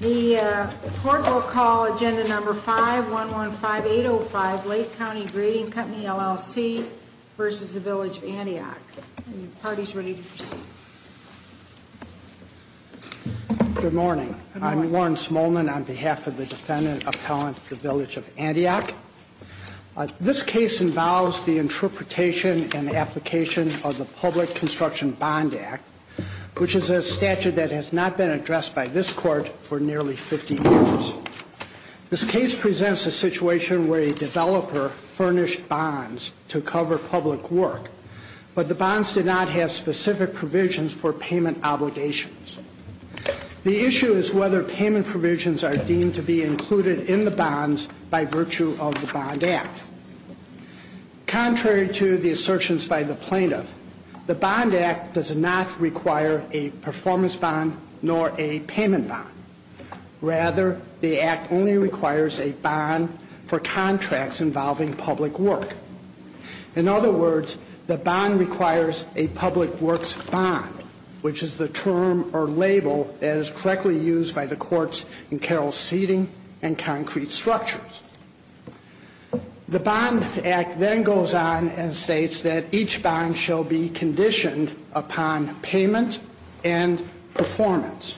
The court will call Agenda No. 5-115805, Lake County Grading Company, LLC v. Village of Antioch. The party is ready to proceed. Good morning. I'm Warren Smolin on behalf of the Defendant Appellant at the Village of Antioch. This case involves the interpretation and application of the Public Construction Bond Act, which is a statute that has not been addressed by this Court for nearly 50 years. This case presents a situation where a developer furnished bonds to cover public work, but the bonds did not have specific provisions for payment obligations. The issue is whether payment provisions are deemed to be included in the bonds by virtue of the Bond Act. Contrary to the assertions by the plaintiff, the Bond Act does not require a performance bond nor a payment bond. Rather, the Act only requires a bond for contracts involving public work. In other words, the bond requires a public works bond, which is the term or label that is correctly used by the courts in Carroll's seating and concrete structures. The Bond Act then goes on and states that each bond shall be conditioned upon payment and performance.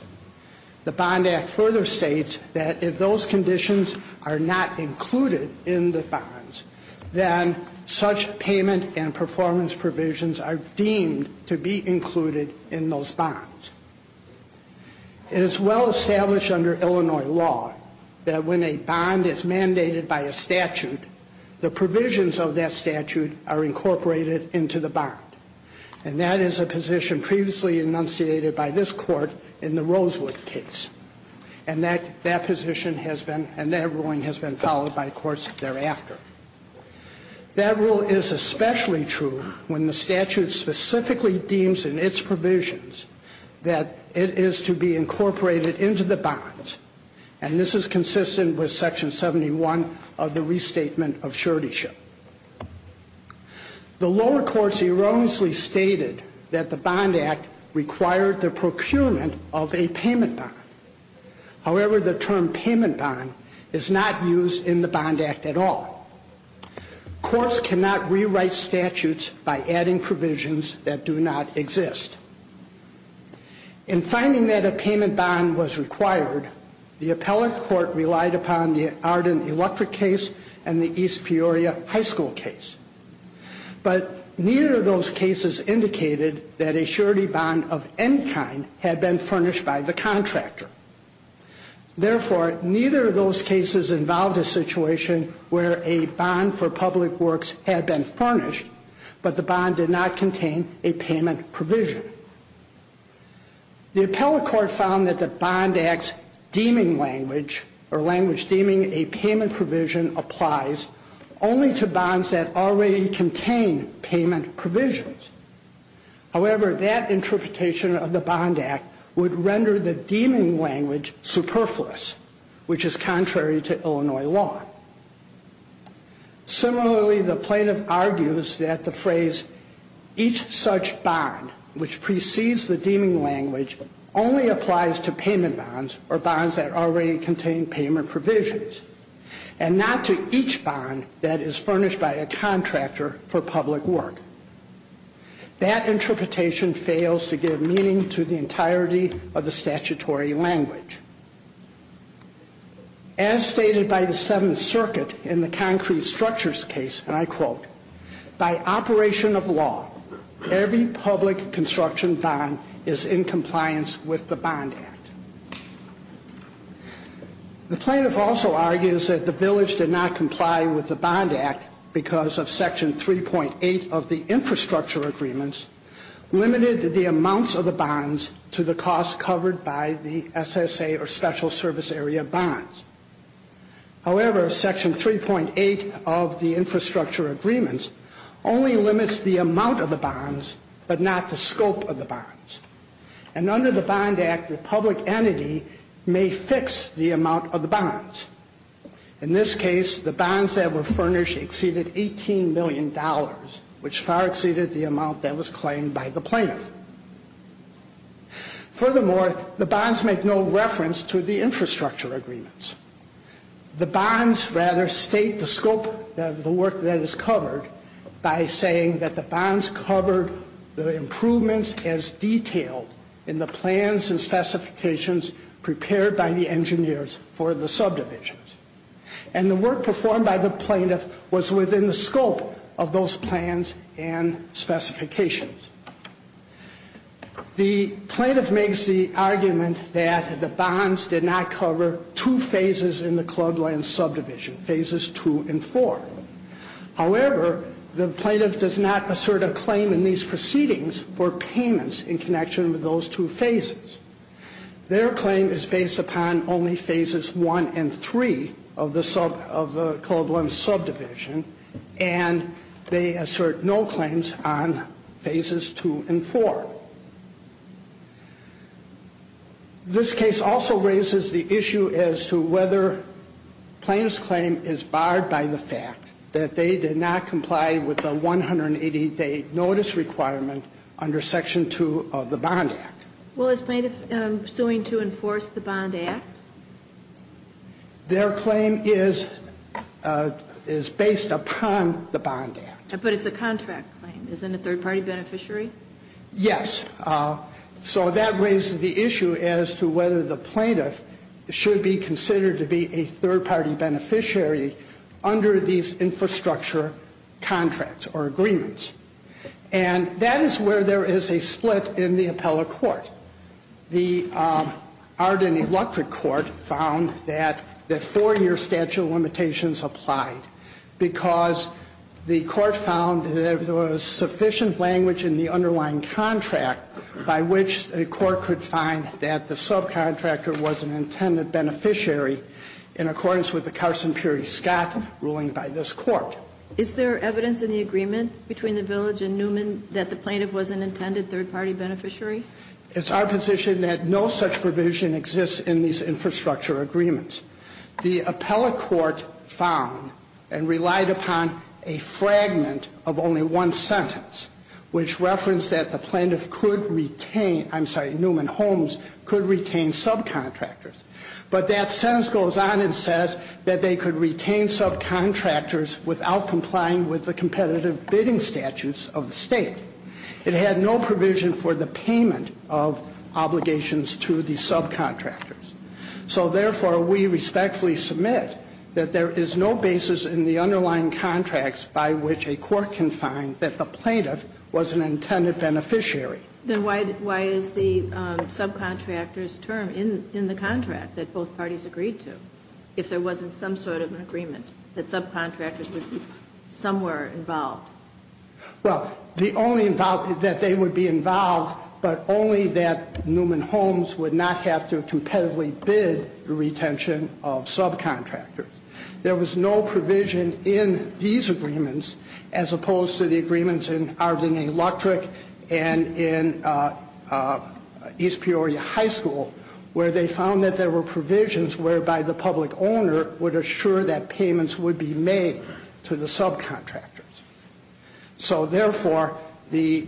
The Bond Act further states that if those conditions are not included in the bonds, then such payment and performance provisions are deemed to be included in those bonds. It is well established under Illinois law that when a bond is mandated by a statute, the provisions of that statute are incorporated into the bond. And that is a position previously enunciated by this Court in the Rosewood case. And that ruling has been followed by courts thereafter. That rule is especially true when the statute specifically deems in its provisions that it is to be incorporated into the bonds. And this is consistent with Section 71 of the Restatement of Suretyship. The lower courts erroneously stated that the Bond Act required the procurement of a payment bond. However, the term payment bond is not used in the Bond Act at all. Courts cannot rewrite statutes by adding provisions that do not exist. In finding that a payment bond was required, the appellate court relied upon the Arden Electric case and the East Peoria High School case. But neither of those cases indicated that a surety bond of any kind had been furnished by the contractor. Therefore, neither of those cases involved a situation where a bond for public works had been furnished, but the bond did not contain a payment provision. The appellate court found that the Bond Act's language deeming a payment provision applies only to bonds that already contain payment provisions. However, that interpretation of the Bond Act would render the deeming language superfluous, which is contrary to Illinois law. Similarly, the plaintiff argues that the phrase each such bond which precedes the deeming language only applies to payment bonds or bonds that already contain payment provisions and not to each bond that is furnished by a contractor for public work. That interpretation fails to give meaning to the entirety of the statutory language. As stated by the Seventh Circuit in the Concrete Structures case, and I quote, by operation of law, every public construction bond is in compliance with the Bond Act. The plaintiff also argues that the village did not comply with the Bond Act because of Section 3.8 of the Infrastructure Agreements limited the amounts of the bonds to the costs covered by the SSA or Special Service Area bonds. However, Section 3.8 of the Infrastructure Agreements only limits the amount of the bonds, but not the scope of the bonds. And under the Bond Act, the public entity may fix the amount of the bonds. In this case, the bonds that were furnished exceeded $18 million, which far exceeded the amount that was claimed by the plaintiff. Furthermore, the bonds make no reference to the Infrastructure Agreements. The bonds rather state the scope of the work that is covered by saying that the bonds covered the improvements as detailed in the plans and specifications prepared by the engineers for the subdivisions. And the work performed by the plaintiff was within the scope of those plans and specifications. The plaintiff makes the argument that the bonds did not cover two phases in the club land subdivision, phases two and four. However, the plaintiff does not assert a claim in these proceedings for payments in connection with those two phases. Their claim is based upon only phases one and three of the club land subdivision, and they assert no claims on phases two and four. This case also raises the issue as to whether plaintiff's claim is barred by the fact that they did not comply with the 180-day notice requirement under Section 2 of the Bond Act. Well, is plaintiff suing to enforce the Bond Act? Their claim is based upon the Bond Act. But it's a contract claim. Isn't it a third-party beneficiary? Yes. So that raises the issue as to whether the plaintiff should be considered to be a third-party beneficiary under these infrastructure contracts or agreements. And that is where there is a split in the appellate court. The Arden Electric Court found that the four-year statute of limitations applied because the court found there was sufficient language in the underlying contract by which the court could find that the subcontractor was an intended beneficiary in accordance with the Carson-Pury-Scott ruling by this Court. Is there evidence in the agreement between the Village and Newman that the plaintiff was an intended third-party beneficiary? It's our position that no such provision exists in these infrastructure agreements. The appellate court found and relied upon a fragment of only one sentence which referenced that the plaintiff could retain, I'm sorry, Newman-Holmes could retain subcontractors. But that sentence goes on and says that they could retain subcontractors without complying with the competitive bidding statutes of the state. It had no provision for the payment of obligations to the subcontractors. So, therefore, we respectfully submit that there is no basis in the underlying contracts by which a court can find that the plaintiff was an intended beneficiary. Then why is the subcontractor's term in the contract that both parties agreed to if there wasn't some sort of an agreement that subcontractors would be somewhere involved? Well, the only involvement that they would be involved, but only that Newman-Holmes would not have to competitively bid the retention of subcontractors. There was no provision in these agreements as opposed to the agreements in Arden Electric and in East Peoria High School where they found that there were provisions whereby the public owner would assure that payments would be made to the subcontractors. So, therefore, the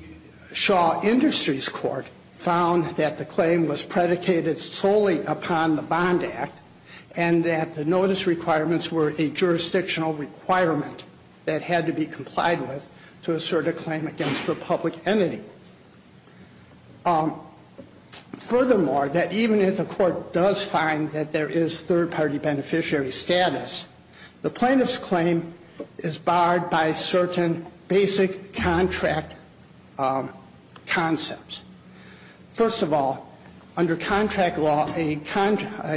Shaw Industries Court found that the claim was predicated solely upon the Bond Act and that the notice requirements were a jurisdictional requirement that had to be complied with to assert a claim against a public entity. Furthermore, that even if the court does find that there is third-party beneficiary status, the plaintiff's claim is barred by certain basic contract concepts. First of all, under contract law, a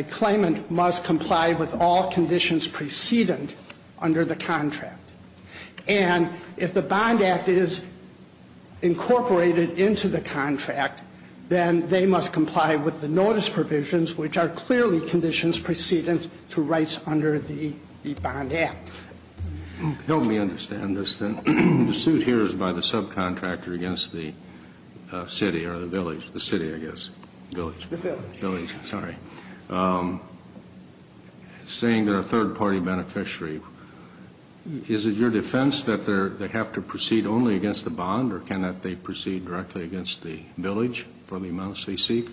claimant must comply with all conditions preceding under the contract. And if the Bond Act is incorporated into the contract, then they must comply with the notice provisions which are clearly conditions preceding to rights under the Bond Act. Help me understand this. The suit here is by the subcontractor against the city or the village. The city, I guess. The village. The village, sorry. Saying they're a third-party beneficiary, is it your defense that they have to proceed only against the bond or can they proceed directly against the village for the amounts they seek?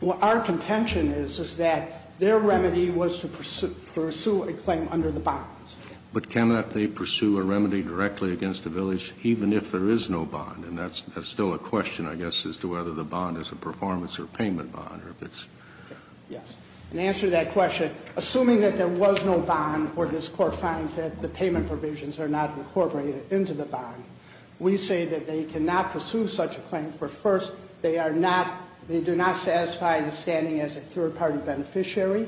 Well, our contention is, is that their remedy was to pursue a claim under the bonds. But cannot they pursue a remedy directly against the village even if there is no bond? And that's still a question, I guess, as to whether the bond is a performance or payment bond or if it's... Yes. In answer to that question, assuming that there was no bond or this Court finds that the payment provisions are not incorporated into the bond, we say that they do not satisfy the standing as a third-party beneficiary.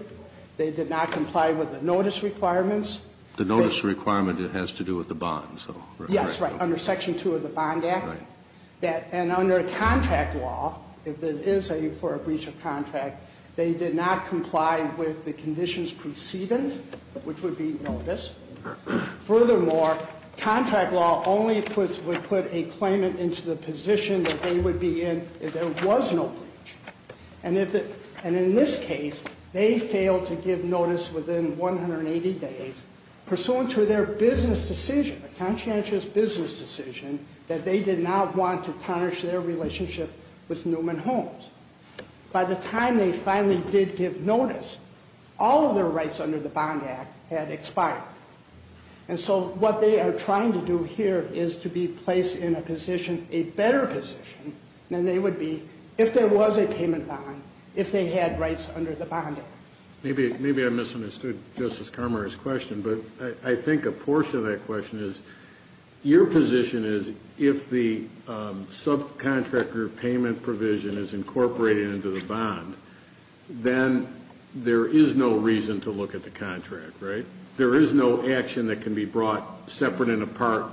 They did not comply with the notice requirements. The notice requirement, it has to do with the bond, so... Yes, right, under Section 2 of the Bond Act. Right. And under contract law, if it is for a breach of contract, they did not comply with the conditions preceding, which would be notice. Furthermore, contract law only would put a claimant into the position that they would be in if there was no breach. And in this case, they failed to give notice within 180 days pursuant to their business decision, a conscientious business decision that they did not want to tarnish their relationship with Newman Homes. By the time they finally did give notice, all of their rights under the Bond Act had expired. And so what they are trying to do here is to be placed in a position, a better position, than they would be if there was a payment bond, if they had rights under the Bond Act. Maybe I misunderstood Justice Carmar's question, but I think a portion of that question is, your position is if the subcontractor payment provision is incorporated into the bond, then there is no reason to look at the contract, right? There is no action that can be brought separate and apart.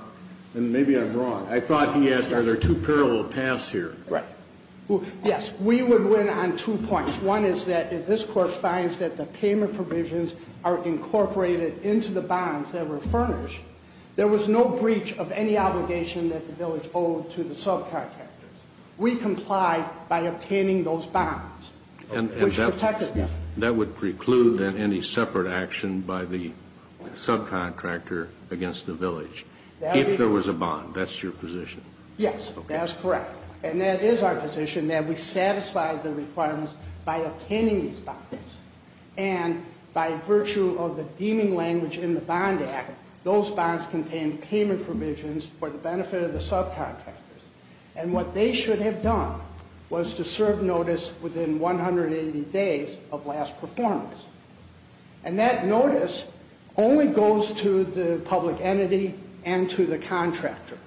And maybe I'm wrong. I thought he asked are there two parallel paths here. Right. Yes. We would win on two points. One is that if this Court finds that the payment provisions are incorporated into the bonds that were furnished, there was no breach of any obligation that the village owed to the subcontractors. We complied by obtaining those bonds, which protected them. That would preclude, then, any separate action by the subcontractor against the village if there was a bond. That's your position? Yes. That is correct. And that is our position, that we satisfied the requirements by obtaining these bonds. And by virtue of the deeming language in the Bond Act, those bonds contained payment provisions for the benefit of the subcontractors. And what they should have done was to serve notice within 180 days of last performance. And that notice only goes to the public entity and to the contractor.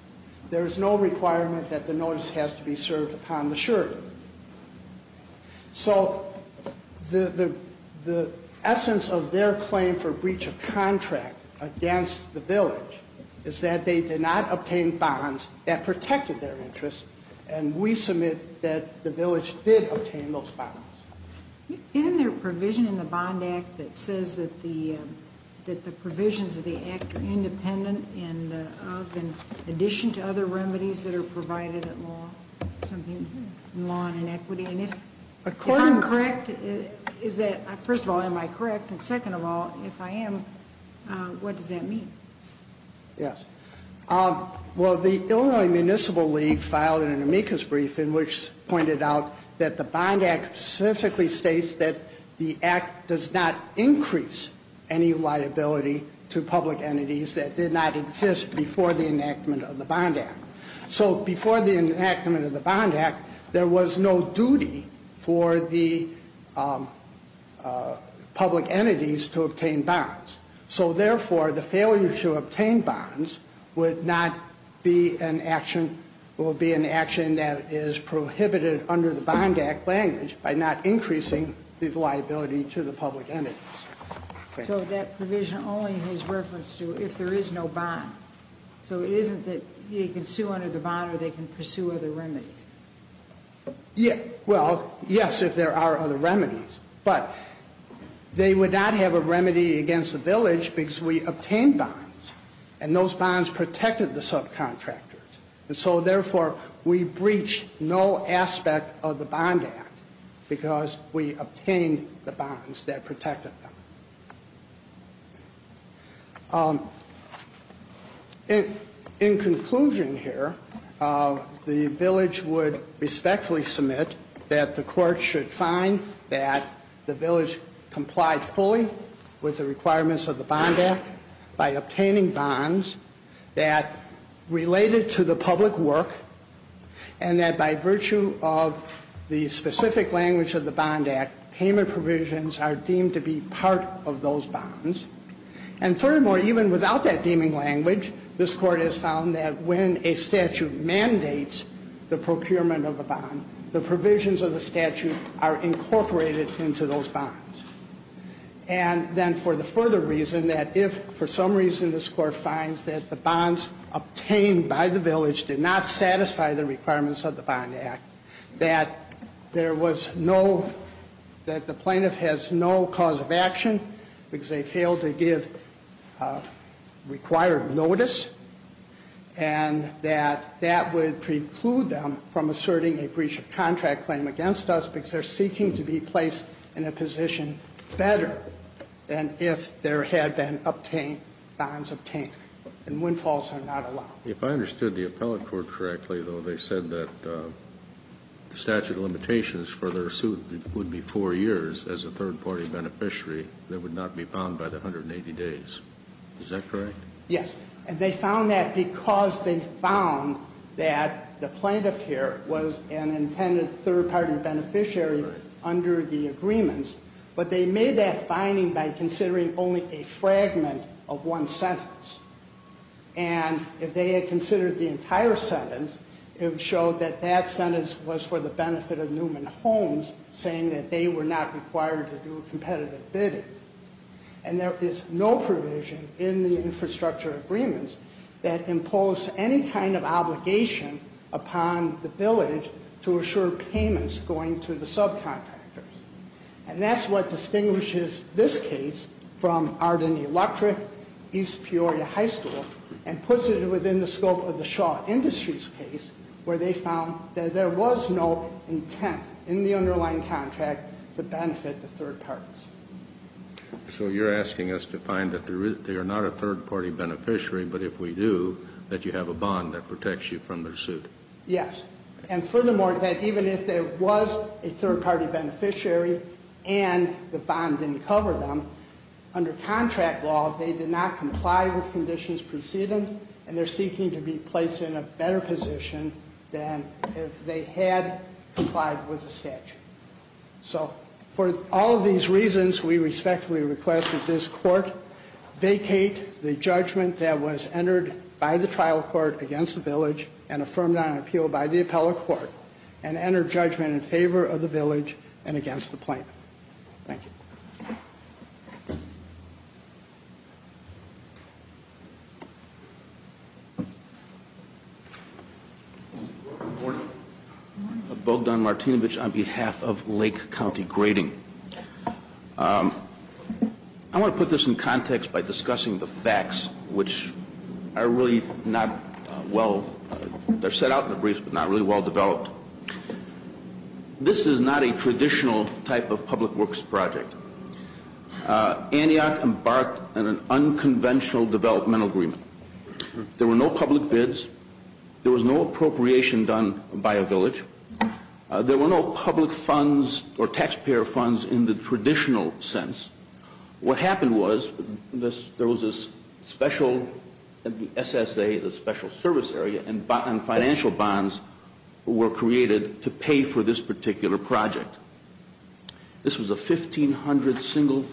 There is no requirement that the notice has to be served upon the surety. So the essence of their claim for breach of contract against the village is that they did not obtain bonds that protected their interest. And we submit that the village did obtain those bonds. Isn't there a provision in the Bond Act that says that the provisions of the Act are independent of, in addition to other remedies that are provided at law, something in law and in equity? And if I'm correct, is that, first of all, am I correct? And second of all, if I am, what does that mean? Yes. Well, the Illinois Municipal League filed an amicus brief in which pointed out that the Bond Act specifically states that the Act does not increase any liability to public entities that did not exist before the enactment of the Bond Act. So before the enactment of the Bond Act, there was no duty for the public entities to obtain bonds. So, therefore, the failure to obtain bonds would not be an action, would be an action that is prohibited under the Bond Act language by not increasing the liability to the public entities. So that provision only has reference to if there is no bond. So it isn't that they can sue under the bond or they can pursue other remedies. Yes. Well, yes, if there are other remedies. But they would not have a remedy against the village because we obtained bonds. And those bonds protected the subcontractors. And so, therefore, we breached no aspect of the Bond Act because we obtained the bonds that protected them. In conclusion here, the village would respectfully submit that the court should find that the village complied fully with the requirements of the Bond Act by obtaining bonds that related to the public work and that by virtue of the specific language of the Bond Act, payment provisions are deemed to be part of those bonds. And, furthermore, even without that deeming language, this Court has found that when a statute mandates the procurement of a bond, the provisions of the statute are incorporated into those bonds. And then for the further reason that if for some reason this Court finds that the bonds obtained by the village did not satisfy the requirements of the Bond Act, that there was no that the plaintiff has no cause of action because they failed to give required notice and that that would preclude them from asserting a breach of contract claim against us because they're seeking to be placed in a position better than if there had been obtained, bonds obtained, and windfalls are not allowed. Kennedy, if I understood the appellate court correctly, though, they said that the statute of limitations for their suit would be 4 years as a third-party beneficiary that would not be found by the 180 days. Is that correct? Yes. And they found that because they found that the plaintiff here was an intended third-party beneficiary under the agreements, but they made that finding by considering only a fragment of one sentence. And if they had considered the entire sentence, it would show that that sentence was for the benefit of Newman Homes, saying that they were not required to do a competitive bidding. And there is no provision in the infrastructure agreements that impose any kind of obligation upon the village to assure payments going to the subcontractors. And that's what distinguishes this case from Arden Electric, East Peoria High School, and puts it within the scope of the Shaw Industries case where they found that there was no intent in the underlying contract to benefit the third parties. So you're asking us to find that they are not a third-party beneficiary, but if we do, that you have a bond that protects you from their suit? Yes. And furthermore, that even if there was a third-party beneficiary and the bond didn't cover them, under contract law, they did not comply with conditions preceding, and they're seeking to be placed in a better position than if they had complied with the statute. So for all of these reasons, we respectfully request that this Court vacate the judgment that was entered by the trial court against the village and affirmed on appeal by the appellate court and enter judgment in favor of the village and against the plaintiff. Thank you. Bogdan Martinovich on behalf of Lake County Grading. I want to put this in context by discussing the facts, which are really not well, they're set out in the briefs, but not really well developed. This is not a traditional type of public works project. Antioch embarked on an unconventional developmental agreement. There were no public bids. There was no appropriation done by a village. There were no public funds or taxpayer funds in the traditional sense. What happened was there was this special SSA, the special service area, and financial bonds were created to pay for this particular project. This was a 1,500 single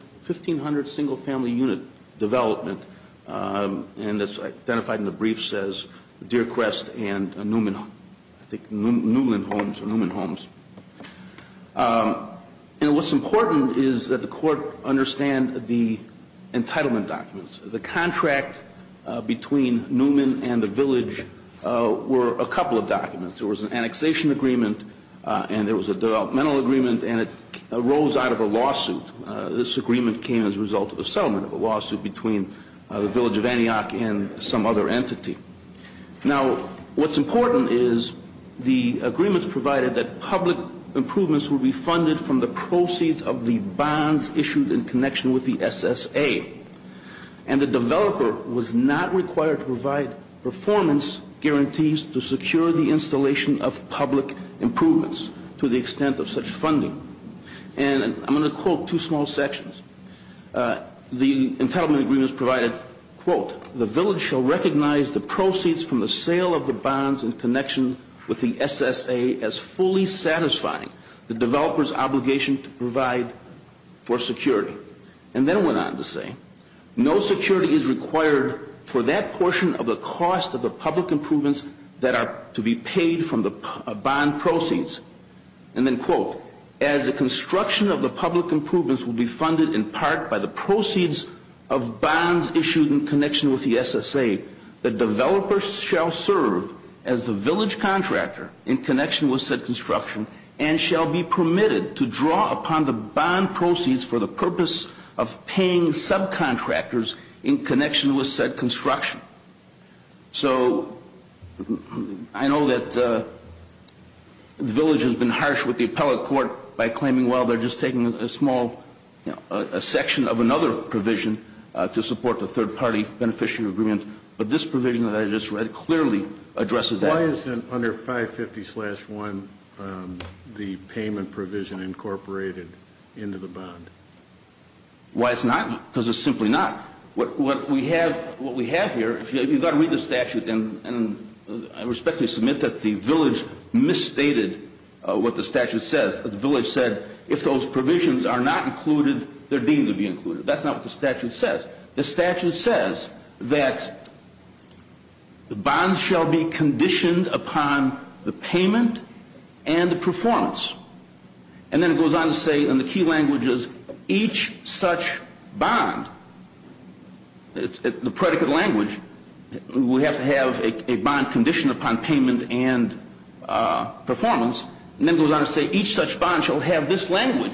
family unit development, and it's identified in the briefs as Newman Homes. And what's important is that the Court understand the entitlement documents. The contract between Newman and the village were a couple of documents. There was an annexation agreement, and there was a developmental agreement, and it arose out of a lawsuit. This agreement came as a result of a settlement of a lawsuit between the village of Antioch and some other entity. Now, what's important is the agreements provided that public improvements would be funded from the proceeds of the bonds issued in connection with the SSA, and the developer was not required to provide performance guarantees to secure the installation of public improvements to the extent of such funding. And I'm going to quote two small sections. The entitlement agreements provided, quote, the village shall recognize the proceeds from the sale of the bonds in connection with the SSA as fully satisfying the developer's obligation to provide for security. And then it went on to say no security is required for that portion of the cost of the public improvements that are to be paid from the bond proceeds. And then, quote, as the construction of the public improvements will be funded in part by the proceeds of bonds issued in connection with the SSA, the developer shall serve as the village contractor in connection with said construction and shall be permitted to draw upon the bond proceeds for the purpose of paying subcontractors in connection with said construction. So I know that the village has been harsh with the appellate court by claiming, well, they're just taking a small section of another provision to support the third-party beneficiary agreement. But this provision that I just read clearly addresses that. Why isn't under 550-1 the payment provision incorporated into the bond? Why it's not? Because it's simply not. What we have here, if you've got to read the statute and respectfully submit that the village misstated what the statute says, the village said if those provisions are not included, they're deemed to be included. That's not what the statute says. The statute says that the bonds shall be conditioned upon the payment and the performance. And then it goes on to say in the key languages, each such bond, the predicate language, we have to have a bond conditioned upon payment and performance, and then it goes on to say each such bond shall have this language,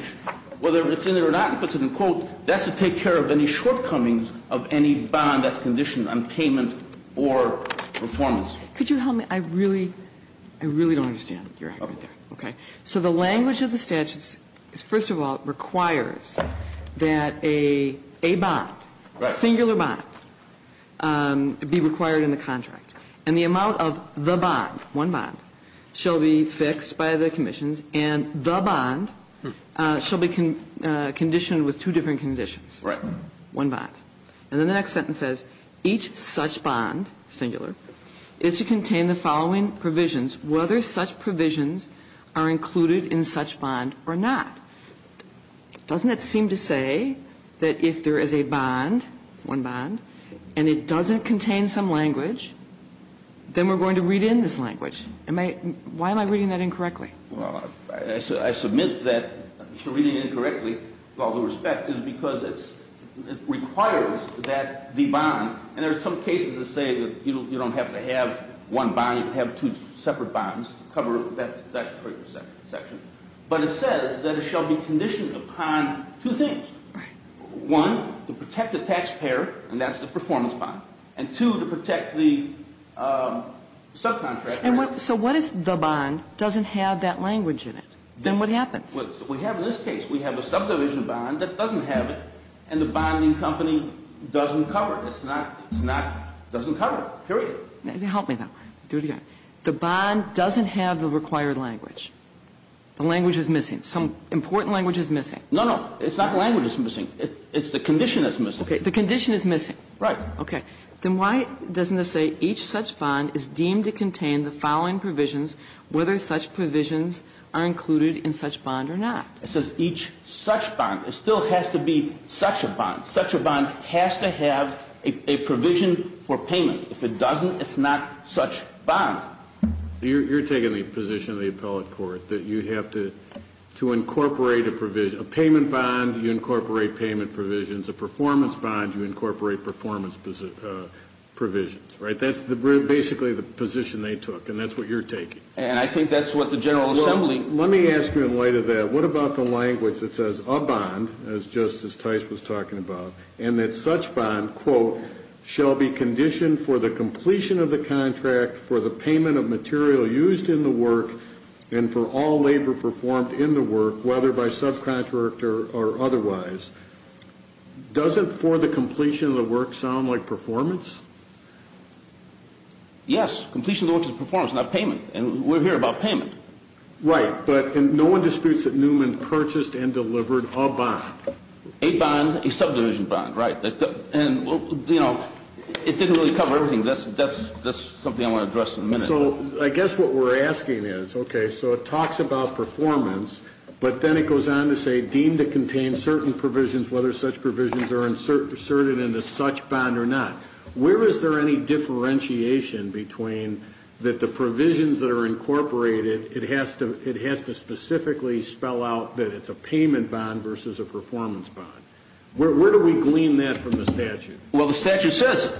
whether it's in there or not, and puts it in quote, that's to take care of any shortcomings of any bond that's conditioned on payment or performance. Could you help me? I really don't understand your argument there. Okay. So the language of the statute is, first of all, requires that a bond, singular bond, be required in the contract. And the amount of the bond, one bond, shall be fixed by the commissions, and the bond shall be conditioned with two different conditions. Right. One bond. And then the next sentence says, each such bond, singular, is to contain the following provisions, whether such provisions are included in such bond or not. Doesn't it seem to say that if there is a bond, one bond, and it doesn't contain some language, then we're going to read in this language? Why am I reading that incorrectly? Well, I submit that you're reading it incorrectly, with all due respect, is because it requires that the bond, and there are some cases that say that you don't have to have one bond, you have two separate bonds to cover that particular section. But it says that it shall be conditioned upon two things. Right. One, to protect the taxpayer, and that's the performance bond. And two, to protect the subcontractor. And so what if the bond doesn't have that language in it? Then what happens? We have in this case, we have a subdivision bond that doesn't have it, and the bonding company doesn't cover it. It's not, it's not, doesn't cover it. Period. Help me, though. Do it again. The bond doesn't have the required language. The language is missing. Some important language is missing. No, no. It's not the language that's missing. It's the condition that's missing. Okay. The condition is missing. Right. Okay. Then why doesn't it say each such bond is deemed to contain the following provisions, whether such provisions are included in such bond or not? It says each such bond. It still has to be such a bond. Such a bond has to have a provision for payment. If it doesn't, it's not such bond. You're taking the position of the appellate court that you have to incorporate a provision. A payment bond, you incorporate payment provisions. A performance bond, you incorporate performance provisions. Right? That's basically the position they took, and that's what you're taking. And I think that's what the General Assembly. Well, let me ask you in light of that, what about the language that says a bond, as Justice Tice was talking about, and that such bond, quote, shall be conditioned for the completion of the contract, for the payment of material used in the work, and for all labor performed in the work, whether by subcontractor or otherwise, doesn't for the completion of the work sound like performance? Yes. Completion of the work is performance, not payment. And we're here about payment. Right. But no one disputes that Newman purchased and delivered a bond. A bond, a subdivision bond. Right. And, you know, it didn't really cover everything. That's something I want to address in a minute. So I guess what we're asking is, okay, so it talks about performance, but then it goes on to say deemed to contain certain provisions, whether such provisions are inserted into such bond or not. Where is there any differentiation between that the provisions that are incorporated, it has to specifically spell out that it's a payment bond versus a performance bond? Where do we glean that from the statute? Well, the statute says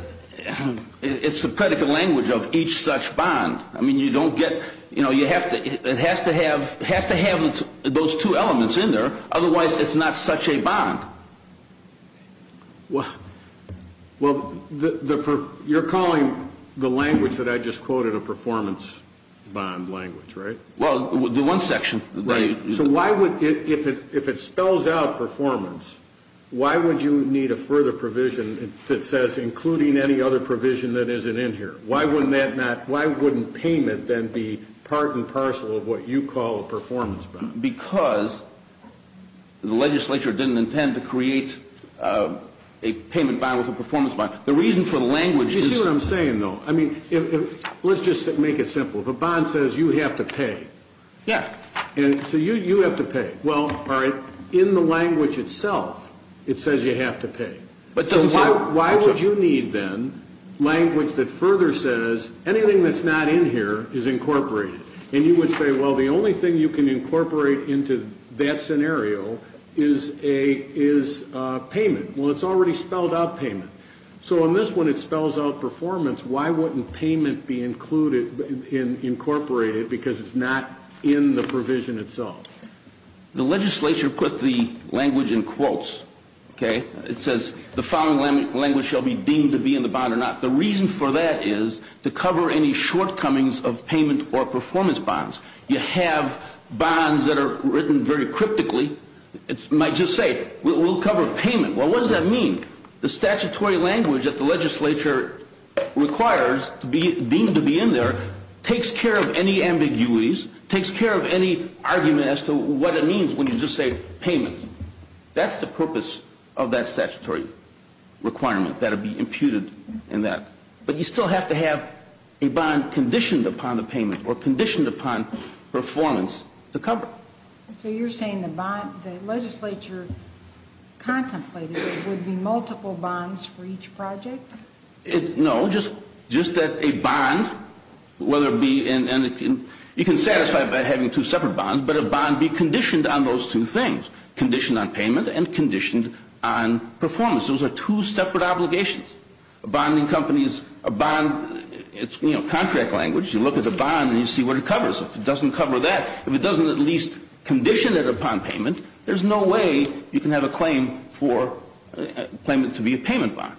it's the predicate language of each such bond. I mean, you don't get, you know, it has to have those two elements in there. Otherwise, it's not such a bond. Well, you're calling the language that I just quoted a performance bond language, right? Well, the one section. So if it spells out performance, why would you need a further provision that says including any other provision that isn't in here? Why wouldn't payment then be part and parcel of what you call a performance bond? Because the legislature didn't intend to create a payment bond with a performance bond. The reason for the language is. You see what I'm saying, though? I mean, let's just make it simple. If a bond says you have to pay. Yeah. And so you have to pay. Well, all right. In the language itself, it says you have to pay. So why would you need then language that further says anything that's not in here is incorporated? And you would say, well, the only thing you can incorporate into that scenario is payment. Well, it's already spelled out payment. So in this one, it spells out performance. Why wouldn't payment be included, incorporated, because it's not in the provision itself? The legislature put the language in quotes, okay? It says the following language shall be deemed to be in the bond or not. The reason for that is to cover any shortcomings of payment or performance bonds. You have bonds that are written very cryptically. It might just say we'll cover payment. Well, what does that mean? The statutory language that the legislature requires to be deemed to be in there takes care of any ambiguities, takes care of any argument as to what it means when you just say payment. That's the purpose of that statutory requirement. That would be imputed in that. But you still have to have a bond conditioned upon the payment or conditioned upon performance to cover. So you're saying the bond the legislature contemplated would be multiple bonds for each project? No, just that a bond, whether it be in, you can satisfy it by having two separate bonds, but a bond be conditioned on those two things, conditioned on payment and conditioned on performance. Those are two separate obligations. A bond in companies, a bond, it's, you know, contract language. If it doesn't cover that, if it doesn't at least condition it upon payment, there's no way you can have a claim for, claim it to be a payment bond.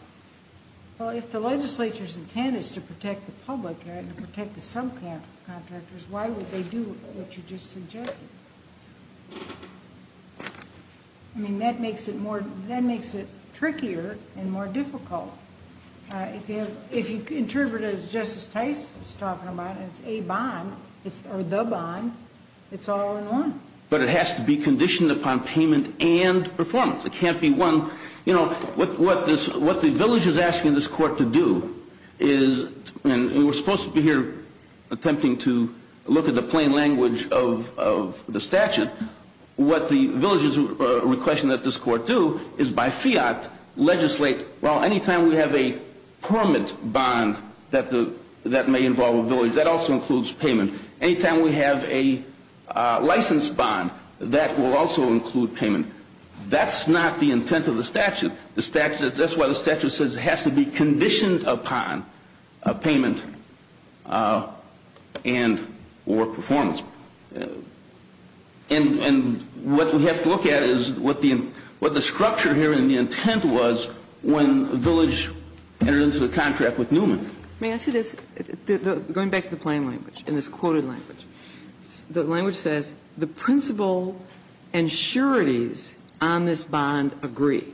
Well, if the legislature's intent is to protect the public and protect the subcontractors, why would they do what you just suggested? I mean, that makes it more, that makes it trickier and more difficult. If you interpret it as Justice Tice is talking about, it's a bond, or the bond, it's all in one. But it has to be conditioned upon payment and performance. It can't be one, you know, what the village is asking this court to do is, and we're supposed to be here attempting to look at the plain language of the statute. What the village is requesting that this court do is by fiat legislate, well, any time we have a permanent bond that may involve a village, that also includes payment. Any time we have a licensed bond, that will also include payment. That's not the intent of the statute. That's why the statute says it has to be conditioned upon payment and or performance. And what we have to look at is what the structure here and the intent was when the village entered into the contract with Newman. May I say this? Going back to the plain language and this quoted language. The language says the principle and sureties on this bond agree.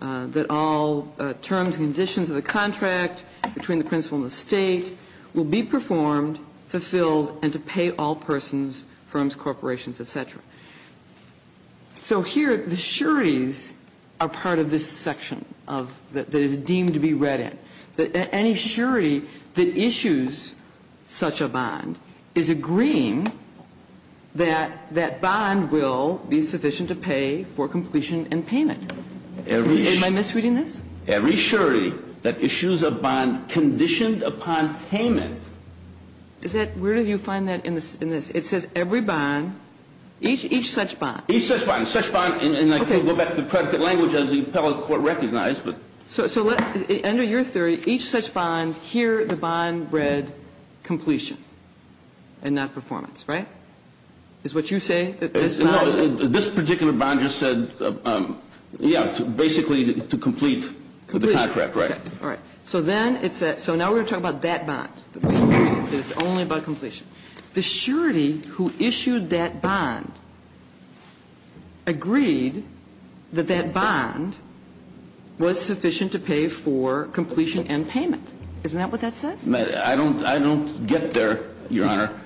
That all terms and conditions of the contract between the principal and the state will be performed, fulfilled, and to pay all persons, firms, corporations, et cetera. So here the sureties are part of this section that is deemed to be read in. But any surety that issues such a bond is agreeing that that bond will be sufficient to pay for completion and payment. Am I misreading this? Every surety that issues a bond conditioned upon payment. Is that where do you find that in this? It says every bond, each such bond. Each such bond. Such bond, and I can go back to the predicate language as the appellate court recognized. So under your theory, each such bond, here the bond read completion and not performance, right? Is what you say? No. This particular bond just said, yeah, basically to complete the contract, right? All right. So then it's that. So now we're going to talk about that bond. It's only about completion. The surety who issued that bond agreed that that bond was sufficient to pay for completion and payment. Isn't that what that says? I don't get there, Your Honor,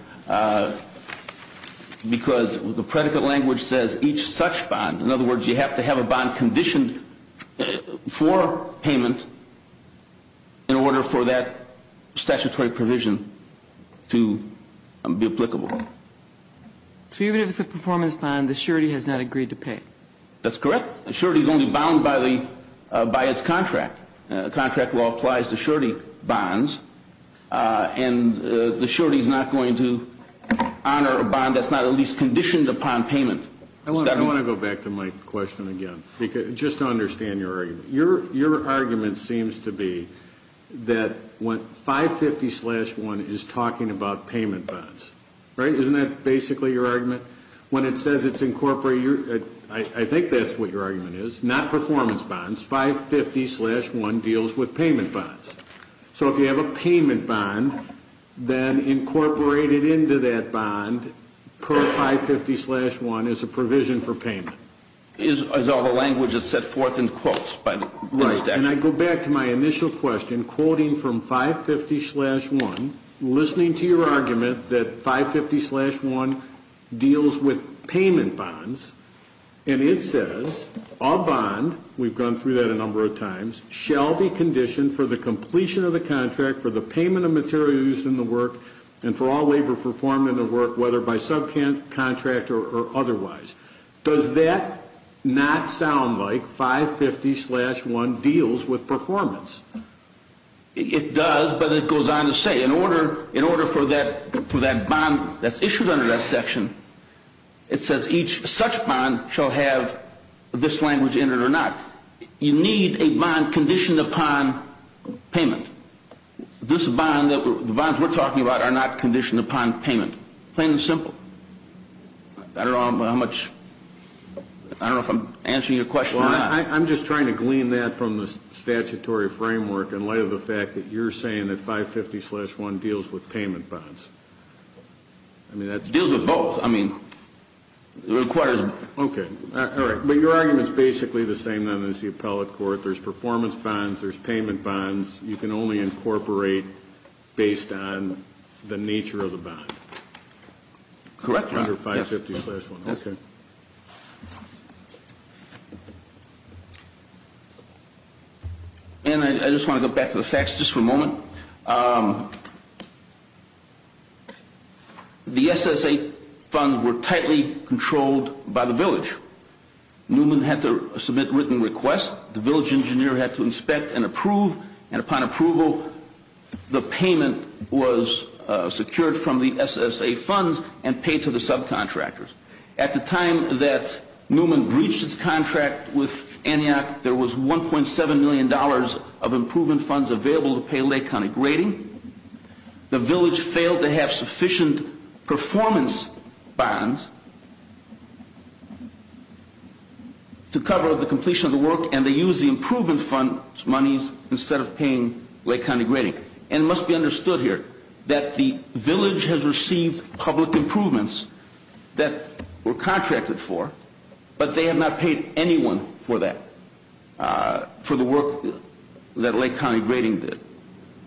because the predicate language says each such bond. In other words, you have to have a bond conditioned for payment in order for that statutory provision to be applicable. So even if it's a performance bond, the surety has not agreed to pay? That's correct. The surety is only bound by its contract. Contract law applies to surety bonds. And the surety is not going to honor a bond that's not at least conditioned upon payment. I want to go back to my question again just to understand your argument. Your argument seems to be that 550-1 is talking about payment bonds, right? Isn't that basically your argument? When it says it's incorporated, I think that's what your argument is, not performance bonds. 550-1 deals with payment bonds. So if you have a payment bond, then incorporate it into that bond per 550-1 as a provision for payment. Is all the language that's set forth in quotes? Right. And I go back to my initial question, quoting from 550-1, listening to your argument that 550-1 deals with payment bonds. And it says, a bond, we've gone through that a number of times, shall be conditioned for the completion of the contract, for the payment of material used in the work, and for all labor performed in the work, whether by subcontract or otherwise. Does that not sound like 550-1 deals with performance? It does, but it goes on to say, in order for that bond that's issued under that section, it says each such bond shall have this language in it or not. You need a bond conditioned upon payment. This bond, the bonds we're talking about, are not conditioned upon payment, plain and simple. I don't know how much, I don't know if I'm answering your question or not. Well, I'm just trying to glean that from the statutory framework in light of the fact that you're saying that 550-1 deals with payment bonds. I mean, that's... It deals with both. I mean, it requires... Okay. All right. But your argument's basically the same then as the appellate court. There's performance bonds, there's payment bonds. You can only incorporate based on the nature of the bond. Correct or not? Under 550-1. Okay. And I just want to go back to the facts just for a moment. The SSA funds were tightly controlled by the village. Newman had to submit written requests, the village engineer had to inspect and approve, and upon approval, the payment was secured from the SSA funds and paid to the subcontractors. At the time that Newman breached his contract with Antioch, there was $1.7 million of improvement funds available to pay Lake County grading. The village failed to have sufficient performance bonds to cover the completion of the work, and they used the improvement funds' monies instead of paying Lake County grading. And it must be understood here that the village has received public improvements that were contracted for, but they have not paid anyone for that, for the work that Lake County grading did.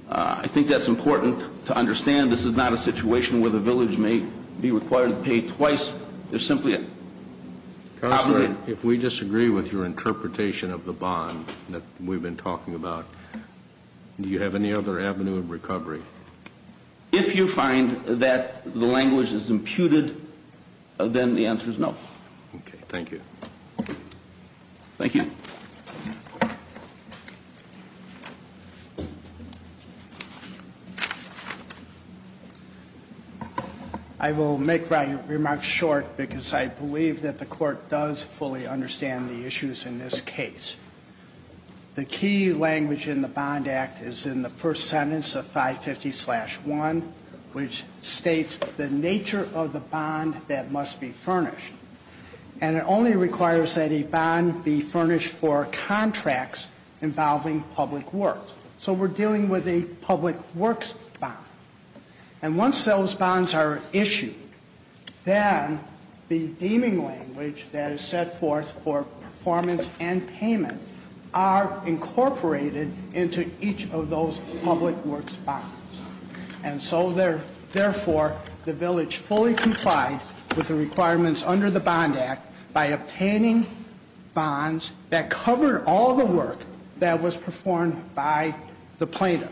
I think that's important to understand. This is not a situation where the village may be required to pay twice. There's simply a... Counselor, if we disagree with your interpretation of the bond that we've been talking about, do you have any other avenue of recovery? If you find that the language is imputed, then the answer is no. Okay. Thank you. Thank you. I will make my remarks short because I believe that the court does fully understand the issues in this case. The key language in the Bond Act is in the first sentence of 550-1, which states the nature of the bond that must be furnished. And it only requires that a bond be furnished for contracts involving public works. So we're dealing with a public works bond. And once those bonds are issued, then the deeming language that is set forth for performance and payment are incorporated into each of those public works bonds. And so, therefore, the village fully complied with the requirements under the Bond Act by obtaining bonds that covered all the work that was performed by the plaintiff.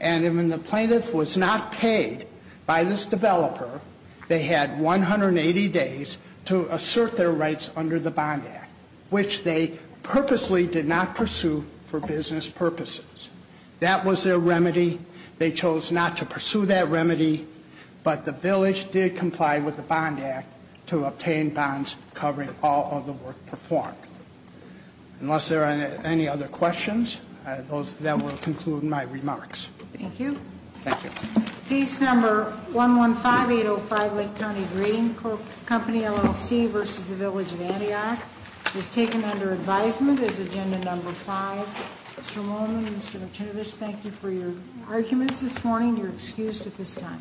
And when the plaintiff was not paid by this developer, they had 180 days to assert their rights under the Bond Act, which they purposely did not pursue for business purposes. That was their remedy. They chose not to pursue that remedy. But the village did comply with the Bond Act to obtain bonds covering all of the work performed. Unless there are any other questions, that will conclude my remarks. Thank you. Thank you. Case number 115805, Lake County Green Company LLC versus the Village of Antioch is taken under advisement as agenda number five. Mr. Moorman, Mr. Martinovich, thank you for your arguments this morning. You're excused at this time.